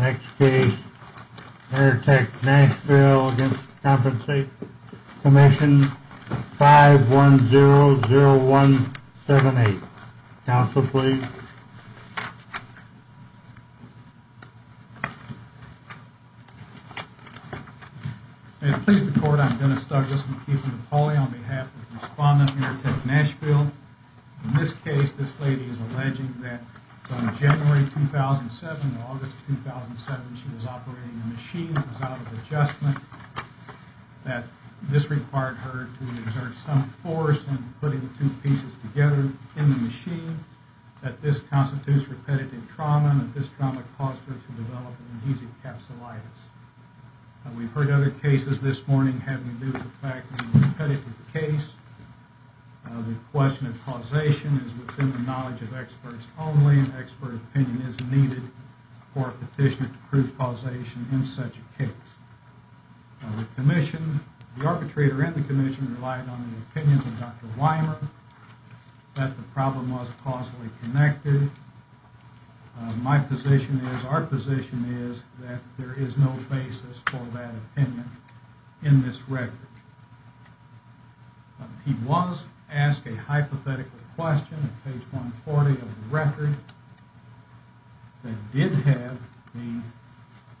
Next case, Wernertech-Nashville v. Compensation Commission 5100178. Counsel, please. May it please the Court, I'm Dennis Douglas from Keith and Napoleon on behalf of the Respondent-Wernertech-Nashville. In this case, this lady is alleging that from January 2007 to August 2007, she was operating a machine that was out of adjustment, that this required her to exert some force in putting two pieces together in the machine, that this constitutes repetitive trauma, and that this trauma caused her to develop an adhesive capsulitis. We've heard other cases this morning having to do with the fact that when you're repetitive with the case, the question of causation is within the knowledge of experts only, and the same expert opinion is needed for a petition to prove causation in such a case. The arbitrator in the Commission relied on the opinions of Dr. Weimer that the problem was causally connected. My position is, our position is, that there is no basis for that opinion in this record. He was asked a hypothetical question on page 140 of the record that did have the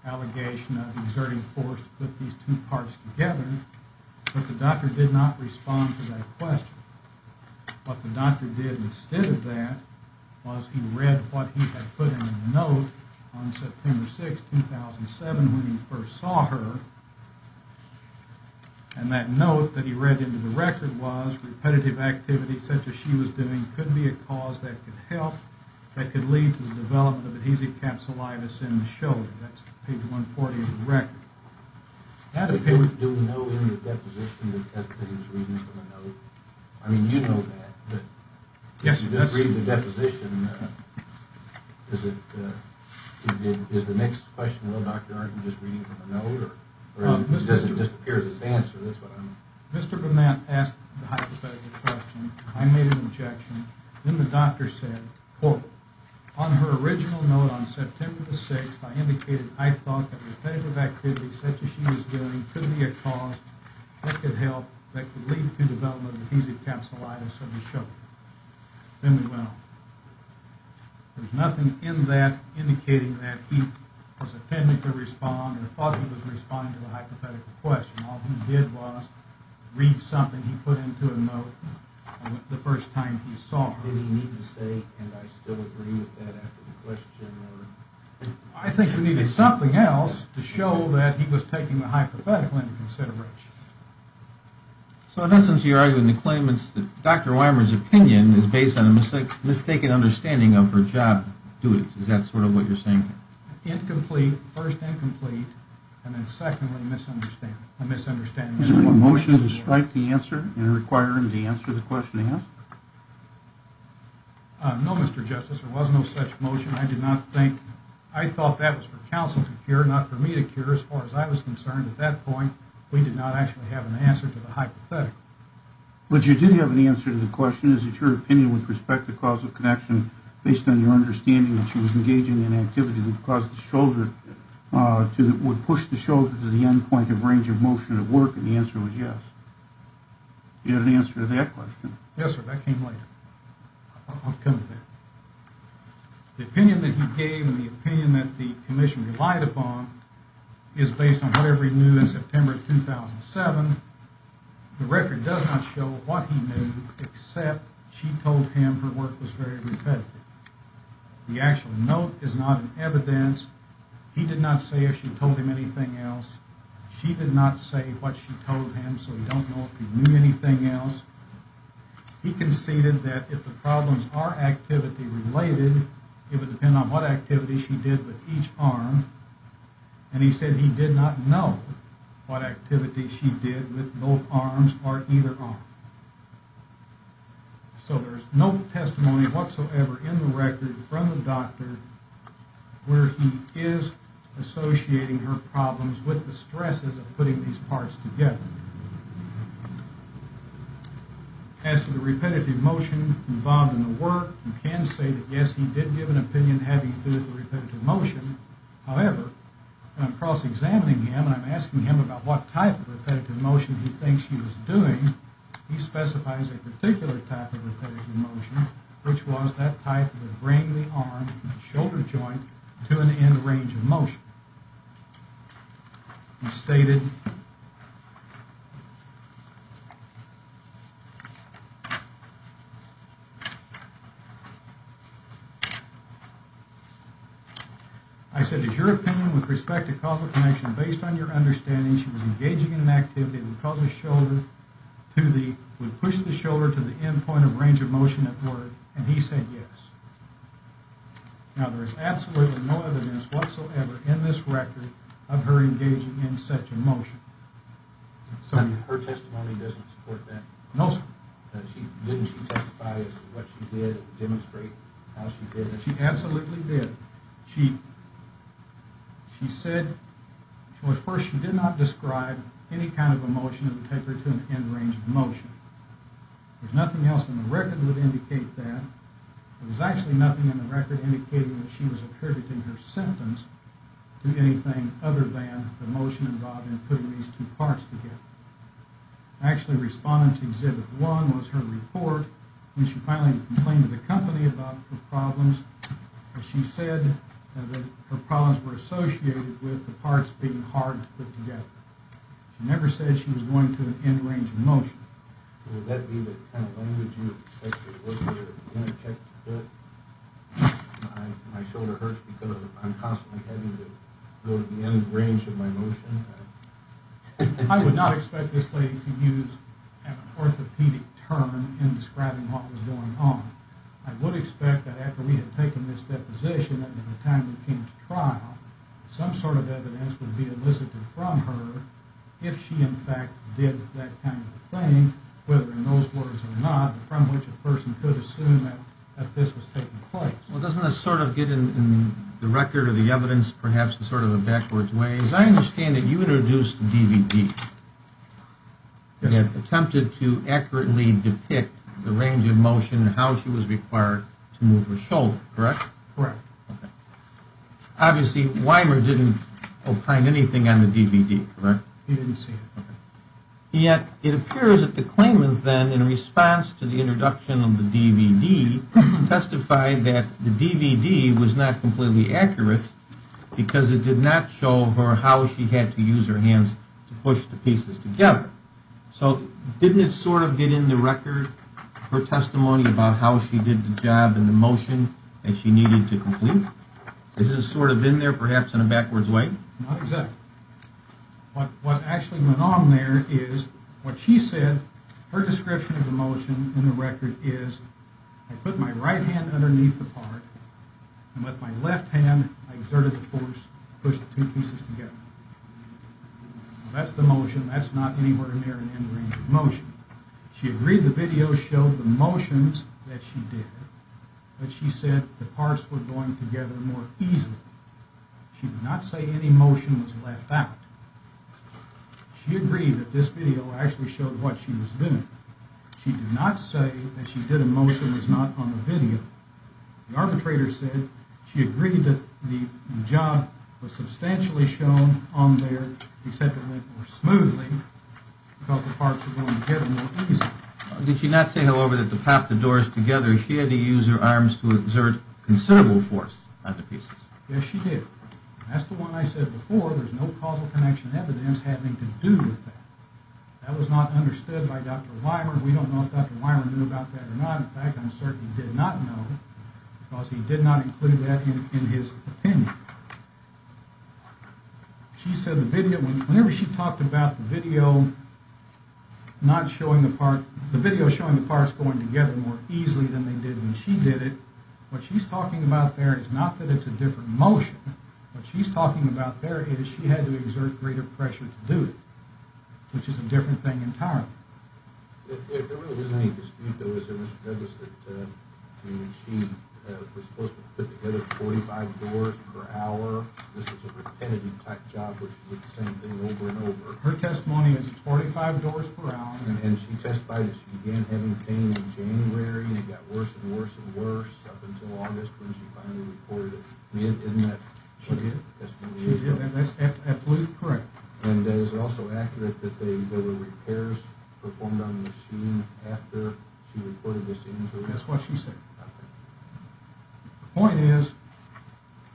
allegation of exerting force to put these two parts together, but the doctor did not respond to that question. What the doctor did instead of that was he read what he had put in the note on September 6, 2007 when he first saw her, and that note that he read into the record was, repetitive activity such as she was doing could be a cause that could help, that could lead to the development of adhesive capsulitis in the shoulder. That's page 140 of the record. Do we know in the deposition that he was reading from a note? I mean, you know that. You're just reading the deposition. Is the next question, though, Dr. Arden, just reading from a note? It just appears as an answer. Mr. Burnett asked the hypothetical question. I made an objection. Then the doctor said, quote, On her original note on September 6, I indicated I thought that repetitive activity such as she was doing could be a cause that could help, that could lead to the development of adhesive capsulitis in the shoulder. Then we went on. There's nothing in that indicating that he was intending to respond or thought he was responding to the hypothetical question. All he did was read something he put into a note the first time he saw her. Did he need to say, and I still agree with that after the question? I think he needed something else to show that he was taking the hypothetical into consideration. So, in essence, you're arguing the claimants that Dr. Weimer's opinion is based on a mistaken understanding of her job duties. Is that sort of what you're saying? Incomplete, first incomplete, and then, secondly, a misunderstanding. Is there a motion to strike the answer and require him to answer the question asked? No, Mr. Justice, there was no such motion. I thought that was for counsel to hear, not for me to hear. As far as I was concerned, at that point, we did not actually have an answer to the hypothetical. But you did have an answer to the question. Is it your opinion with respect to causal connection, based on your understanding that she was engaging in an activity that would push the shoulder to the end point of range of motion at work? And the answer was yes. Do you have an answer to that question? Yes, sir. That came later. I'll come to that. The opinion that he gave and the opinion that the commission relied upon is based on whatever he knew in September 2007. The record does not show what he knew, except she told him her work was very repetitive. The actual note is not in evidence. He did not say if she told him anything else. She did not say what she told him, so we don't know if he knew anything else. He conceded that if the problems are activity related, it would depend on what activity she did with each arm. And he said he did not know what activity she did with both arms or either arm. So there's no testimony whatsoever in the record from the doctor where he is associating her problems with the stresses of putting these parts together. As to the repetitive motion involved in the work, you can say that, yes, he did give an opinion having to do with repetitive motion. However, when I'm cross-examining him and I'm asking him about what type of repetitive motion he thinks she was doing, he specifies a particular type of repetitive motion, which was that type of a wrangly arm and shoulder joint to an end range of motion. He stated, I said, Is your opinion with respect to causal connection based on your understanding she was engaging in an activity that would push the shoulder to the end point of range of motion at work? And he said yes. Now, there is absolutely no evidence whatsoever in this record of her engaging in such a motion. Her testimony doesn't support that? No, sir. Didn't she testify as to what she did, demonstrate how she did it? She absolutely did. She said, well, at first she did not describe any kind of a motion that would take her to an end range of motion. There's nothing else in the record that would indicate that. There was actually nothing in the record indicating that she was attributing her symptoms to anything other than the motion involved in putting these two parts together. Actually, Respondent's Exhibit 1 was her report when she finally complained to the company about her problems. She said that her problems were associated with the parts being hard to put together. She never said she was going to an end range of motion. Would that be the kind of language you would expect her to work with in a textbook? My shoulder hurts because I'm constantly having to go to the end range of my motion. I would not expect this lady to use an orthopedic term in describing what was going on. I would expect that after we had taken this deposition at the time we came to trial, some sort of evidence would be elicited from her if she, in fact, did that kind of thing, whether in those words or not, from which a person could assume that this was taking place. Well, doesn't that sort of get in the record or the evidence perhaps in sort of a backwards way? As I understand it, you introduced the DVD that attempted to accurately depict the range of motion and how she was required to move her shoulder, correct? Correct. Obviously, Weimer didn't opine anything on the DVD, correct? He didn't say. Yet it appears that the claimant then, in response to the introduction of the DVD, testified that the DVD was not completely accurate because it did not show her how she had to use her hands to push the pieces together. So didn't it sort of get in the record, her testimony about how she did the job and the motion that she needed to complete? Is it sort of in there perhaps in a backwards way? Not exactly. What actually went on there is what she said, her description of the motion in the record is, I put my right hand underneath the part and with my left hand I exerted the force to push the two pieces together. That's the motion, that's not anywhere near an end range of motion. She agreed the video showed the motions that she did, but she said the parts were going together more easily. She did not say any motion was left out. She agreed that this video actually showed what she was doing. She did not say that she did a motion that was not on the video. The arbitrator said she agreed that the job was substantially shown on there, except it went more smoothly because the parts were going together more easily. Did she not say, however, that to pop the doors together she had to use her arms to exert considerable force on the pieces? Yes, she did. That's the one I said before, there's no causal connection evidence having to do with that. That was not understood by Dr. Weimer. We don't know if Dr. Weimer knew about that or not. In fact, I'm certain he did not know because he did not include that in his opinion. She said whenever she talked about the video showing the parts going together more easily than they did when she did it, what she's talking about there is not that it's a different motion. What she's talking about there is she had to exert greater pressure to do it, which is a different thing entirely. There really isn't any dispute, though, is there, Mr. Douglas, that she was supposed to put together 45 doors per hour? This was a repetitive type job with the same thing over and over. Her testimony is 45 doors per hour. And she testified that she began having pain in January and it got worse and worse and worse up until August when she finally reported it. She did? She did, and that's absolutely correct. And is it also accurate that there were repairs performed on the machine after she reported this injury? That's what she said. Okay. The point is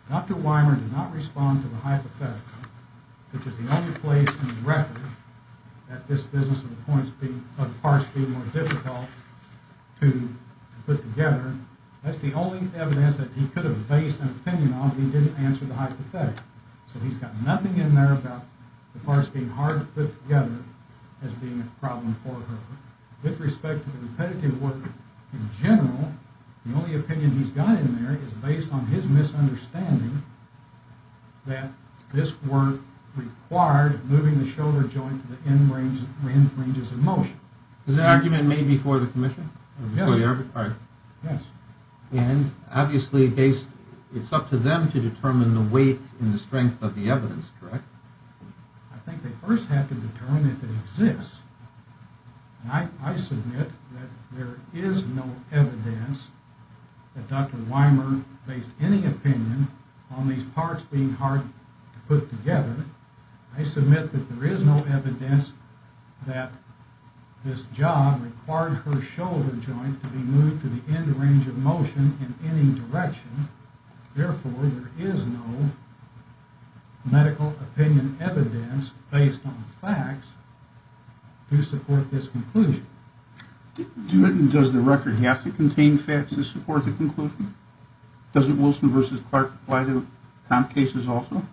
Dr. Weimer did not respond to the hypothetical, which is the only place in the record that this business of parts being more difficult to put together. That's the only evidence that he could have based an opinion on if he didn't answer the hypothetical. So he's got nothing in there about the parts being hard to put together as being a problem for her. With respect to the repetitive work in general, the only opinion he's got in there is based on his misunderstanding that this work required moving the shoulder joint to the end ranges of motion. Is that argument made before the commission? Yes. All right. Yes. And obviously it's up to them to determine the weight and the strength of the evidence, correct? I think they first have to determine if it exists. I submit that there is no evidence that Dr. Weimer based any opinion on these parts being hard to put together. I submit that there is no evidence that this job required her shoulder joint to be moved to the end range of motion in any direction. Therefore, there is no medical opinion evidence based on facts to support this conclusion. Does the record have to contain facts to support the conclusion? Doesn't Wilson v. Clark apply to comp cases also?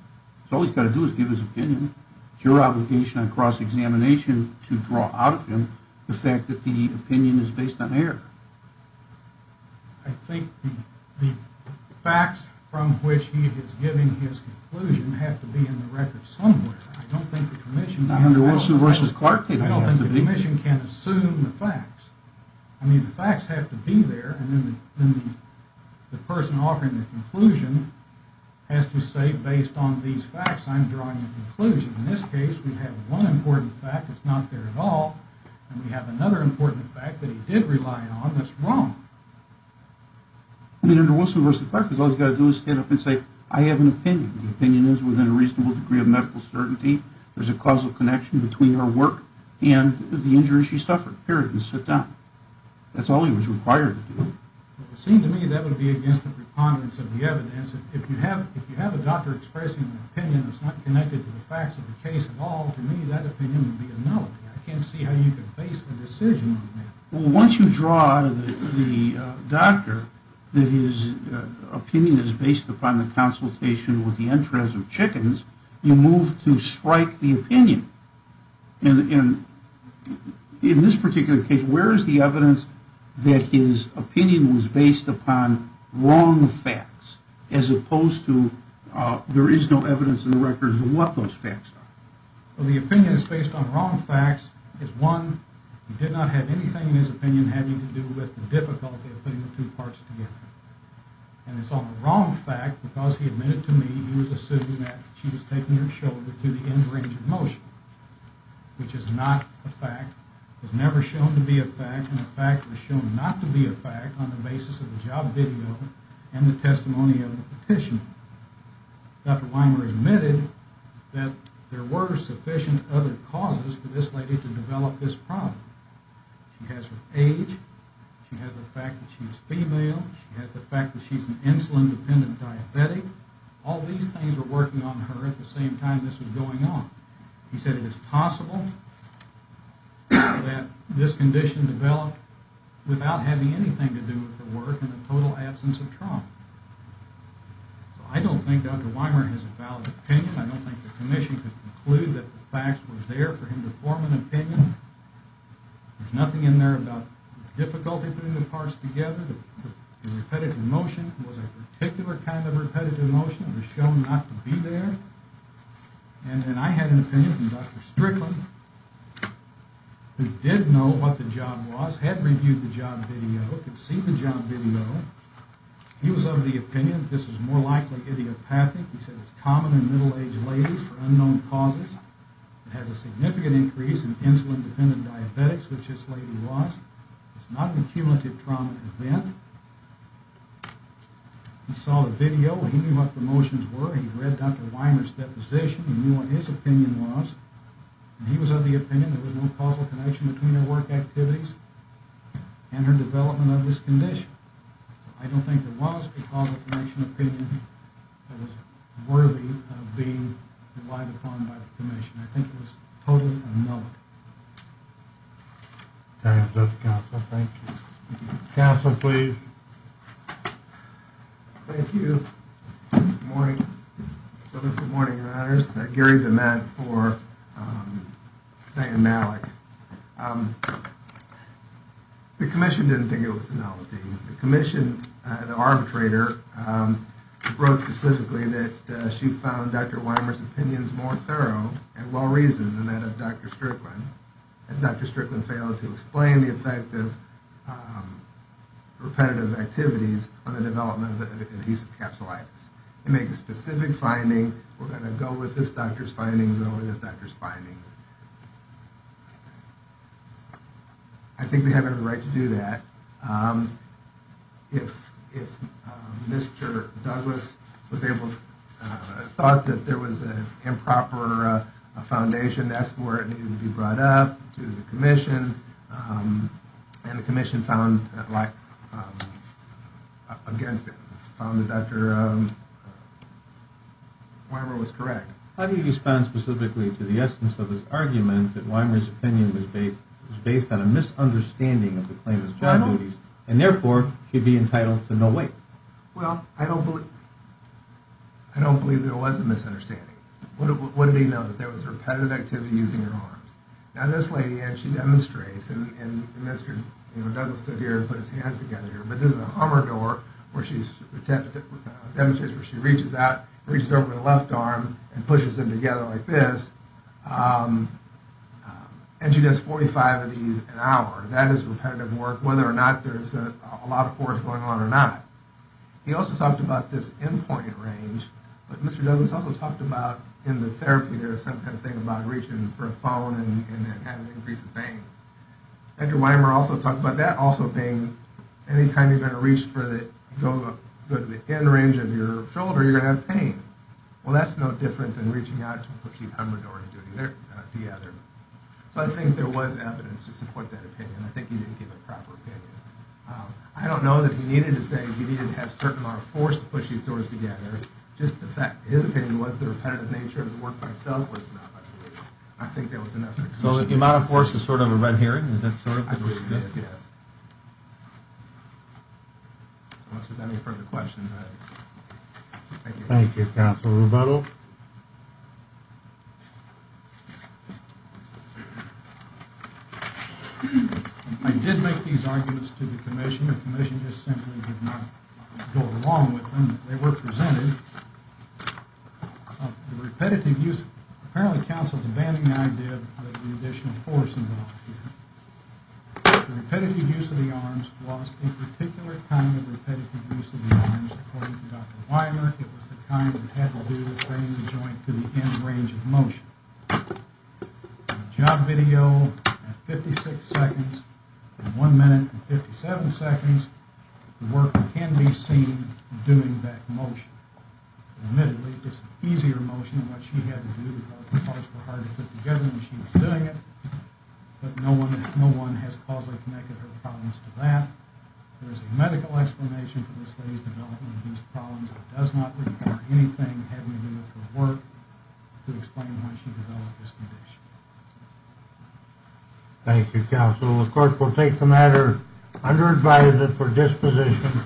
All he's got to do is give his opinion. It's your obligation on cross-examination to draw out of him the fact that the opinion is based on error. I think the facts from which he is giving his conclusion have to be in the record somewhere. I don't think the commission can— Not under Wilson v. Clark, they don't have to be. I don't think the commission can assume the facts. I mean, the facts have to be there, and then the person offering the conclusion has to say, based on these facts, I'm drawing a conclusion. In this case, we have one important fact that's not there at all, and we have another important fact that he did rely on that's wrong. I mean, under Wilson v. Clark, all he's got to do is stand up and say, I have an opinion. The opinion is within a reasonable degree of medical certainty. There's a causal connection between her work and the injuries she suffered. Period, and sit down. That's all he was required to do. It would seem to me that would be against the preponderance of the evidence. If you have a doctor expressing an opinion that's not connected to the facts of the case at all, to me that opinion would be a nullity. I can't see how you can base a decision on that. Well, once you draw the doctor that his opinion is based upon the consultation with the entrance of chickens, you move to strike the opinion. And in this particular case, where is the evidence that his opinion was based upon wrong facts, as opposed to there is no evidence in the records of what those facts are? Well, the opinion is based on wrong facts. One, he did not have anything in his opinion having to do with the difficulty of putting the two parts together. And it's on the wrong fact, because he admitted to me he was assuming that she was taking her shoulder to the end range of motion, which is not a fact. It was never shown to be a fact, and the fact was shown not to be a fact on the basis of the job video and the testimony of the petitioner. Dr. Weimer admitted that there were sufficient other causes for this lady to develop this problem. She has her age. She has the fact that she's female. She has the fact that she's an insulin-dependent diabetic. All these things were working on her at the same time this was going on. He said it is possible that this condition developed without having anything to do with the work and the total absence of trauma. So I don't think Dr. Weimer has a valid opinion. I don't think the commission could conclude that the facts were there for him to form an opinion. There's nothing in there about difficulty putting the parts together. The repetitive motion was a particular kind of repetitive motion. It was shown not to be there. And then I had an opinion from Dr. Strickland, who did know what the job was, had reviewed the job video, could see the job video. He was of the opinion that this was more likely idiopathic. He said it's common in middle-aged ladies for unknown causes. It has a significant increase in insulin-dependent diabetics, which this lady was. It's not an accumulative trauma event. He saw the video. He knew what the motions were. He read Dr. Weimer's deposition. He knew what his opinion was. He was of the opinion there was no causal connection between her work activities and her development of this condition. I don't think there was a causal connection or opinion that was worthy of being relied upon by the commission. I think it was totally analog. Thank you. Counsel, please. Thank you. Good morning. Good morning, your honors. Gary DeMette for Diane Malik. The commission didn't think it was analogy. The commission, the arbitrator, wrote specifically that she found Dr. Weimer's opinions more thorough and well-reasoned than that of Dr. Strickland, and Dr. Strickland failed to explain the effect of repetitive activities on the development of adhesive capsulitis. They make a specific finding. We're going to go with this doctor's findings over this doctor's findings. I think they have every right to do that. If Mr. Douglas thought that there was an improper foundation, that's where it needed to be brought up to the commission, and the commission found against it, found that Dr. Weimer was correct. How do you respond specifically to the essence of his argument that Weimer's opinion was based on a misunderstanding of the claimant's job duties and therefore should be entitled to no weight? Well, I don't believe there was a misunderstanding. What did he know? That there was repetitive activity using her arms. Now, this lady actually demonstrates, and Mr. Douglas stood here and put his hands together here, but this is an armor door where she demonstrates where she reaches out, reaches over her left arm, and pushes them together like this, and she does 45 of these an hour. That is repetitive work, whether or not there's a lot of force going on or not. He also talked about this endpoint range, but Mr. Douglas also talked about in the therapy, there's some kind of thing about reaching for a phone and having an increase in pain. Dr. Weimer also talked about that also being any time you're going to reach for the end range of your shoulder, you're going to have pain. Well, that's no different than reaching out to a pushy armor door and doing the other. So I think there was evidence to support that opinion. I think he didn't give a proper opinion. I don't know that he needed to say he needed to have certain amount of force to push these doors together. Just the fact that his opinion was the repetitive nature of the work by itself was enough. I think that was enough. So the amount of force is sort of a red herring? I believe it is, yes. Unless there's any further questions. Thank you, Counsel Rebuttal. I did make these arguments to the commission. The commission just simply did not go along with them. They were presented. The repetitive use of the arms was a particular kind of repetitive use of the arms. According to Dr. Weimer, it was the kind that had to do with bringing the joint to the end range of motion. Job video at 56 seconds and one minute and 57 seconds. The work can be seen doing that motion. Admittedly, it's an easier motion than what she had to do because the parts were harder to put together than she was doing it. But no one has positively connected her problems to that. There is a medical explanation for this lady's development of these problems. It does not require anything having to do with her work to explain why she developed this condition. Thank you, Counsel. The court will take the matter under advisement for disposition.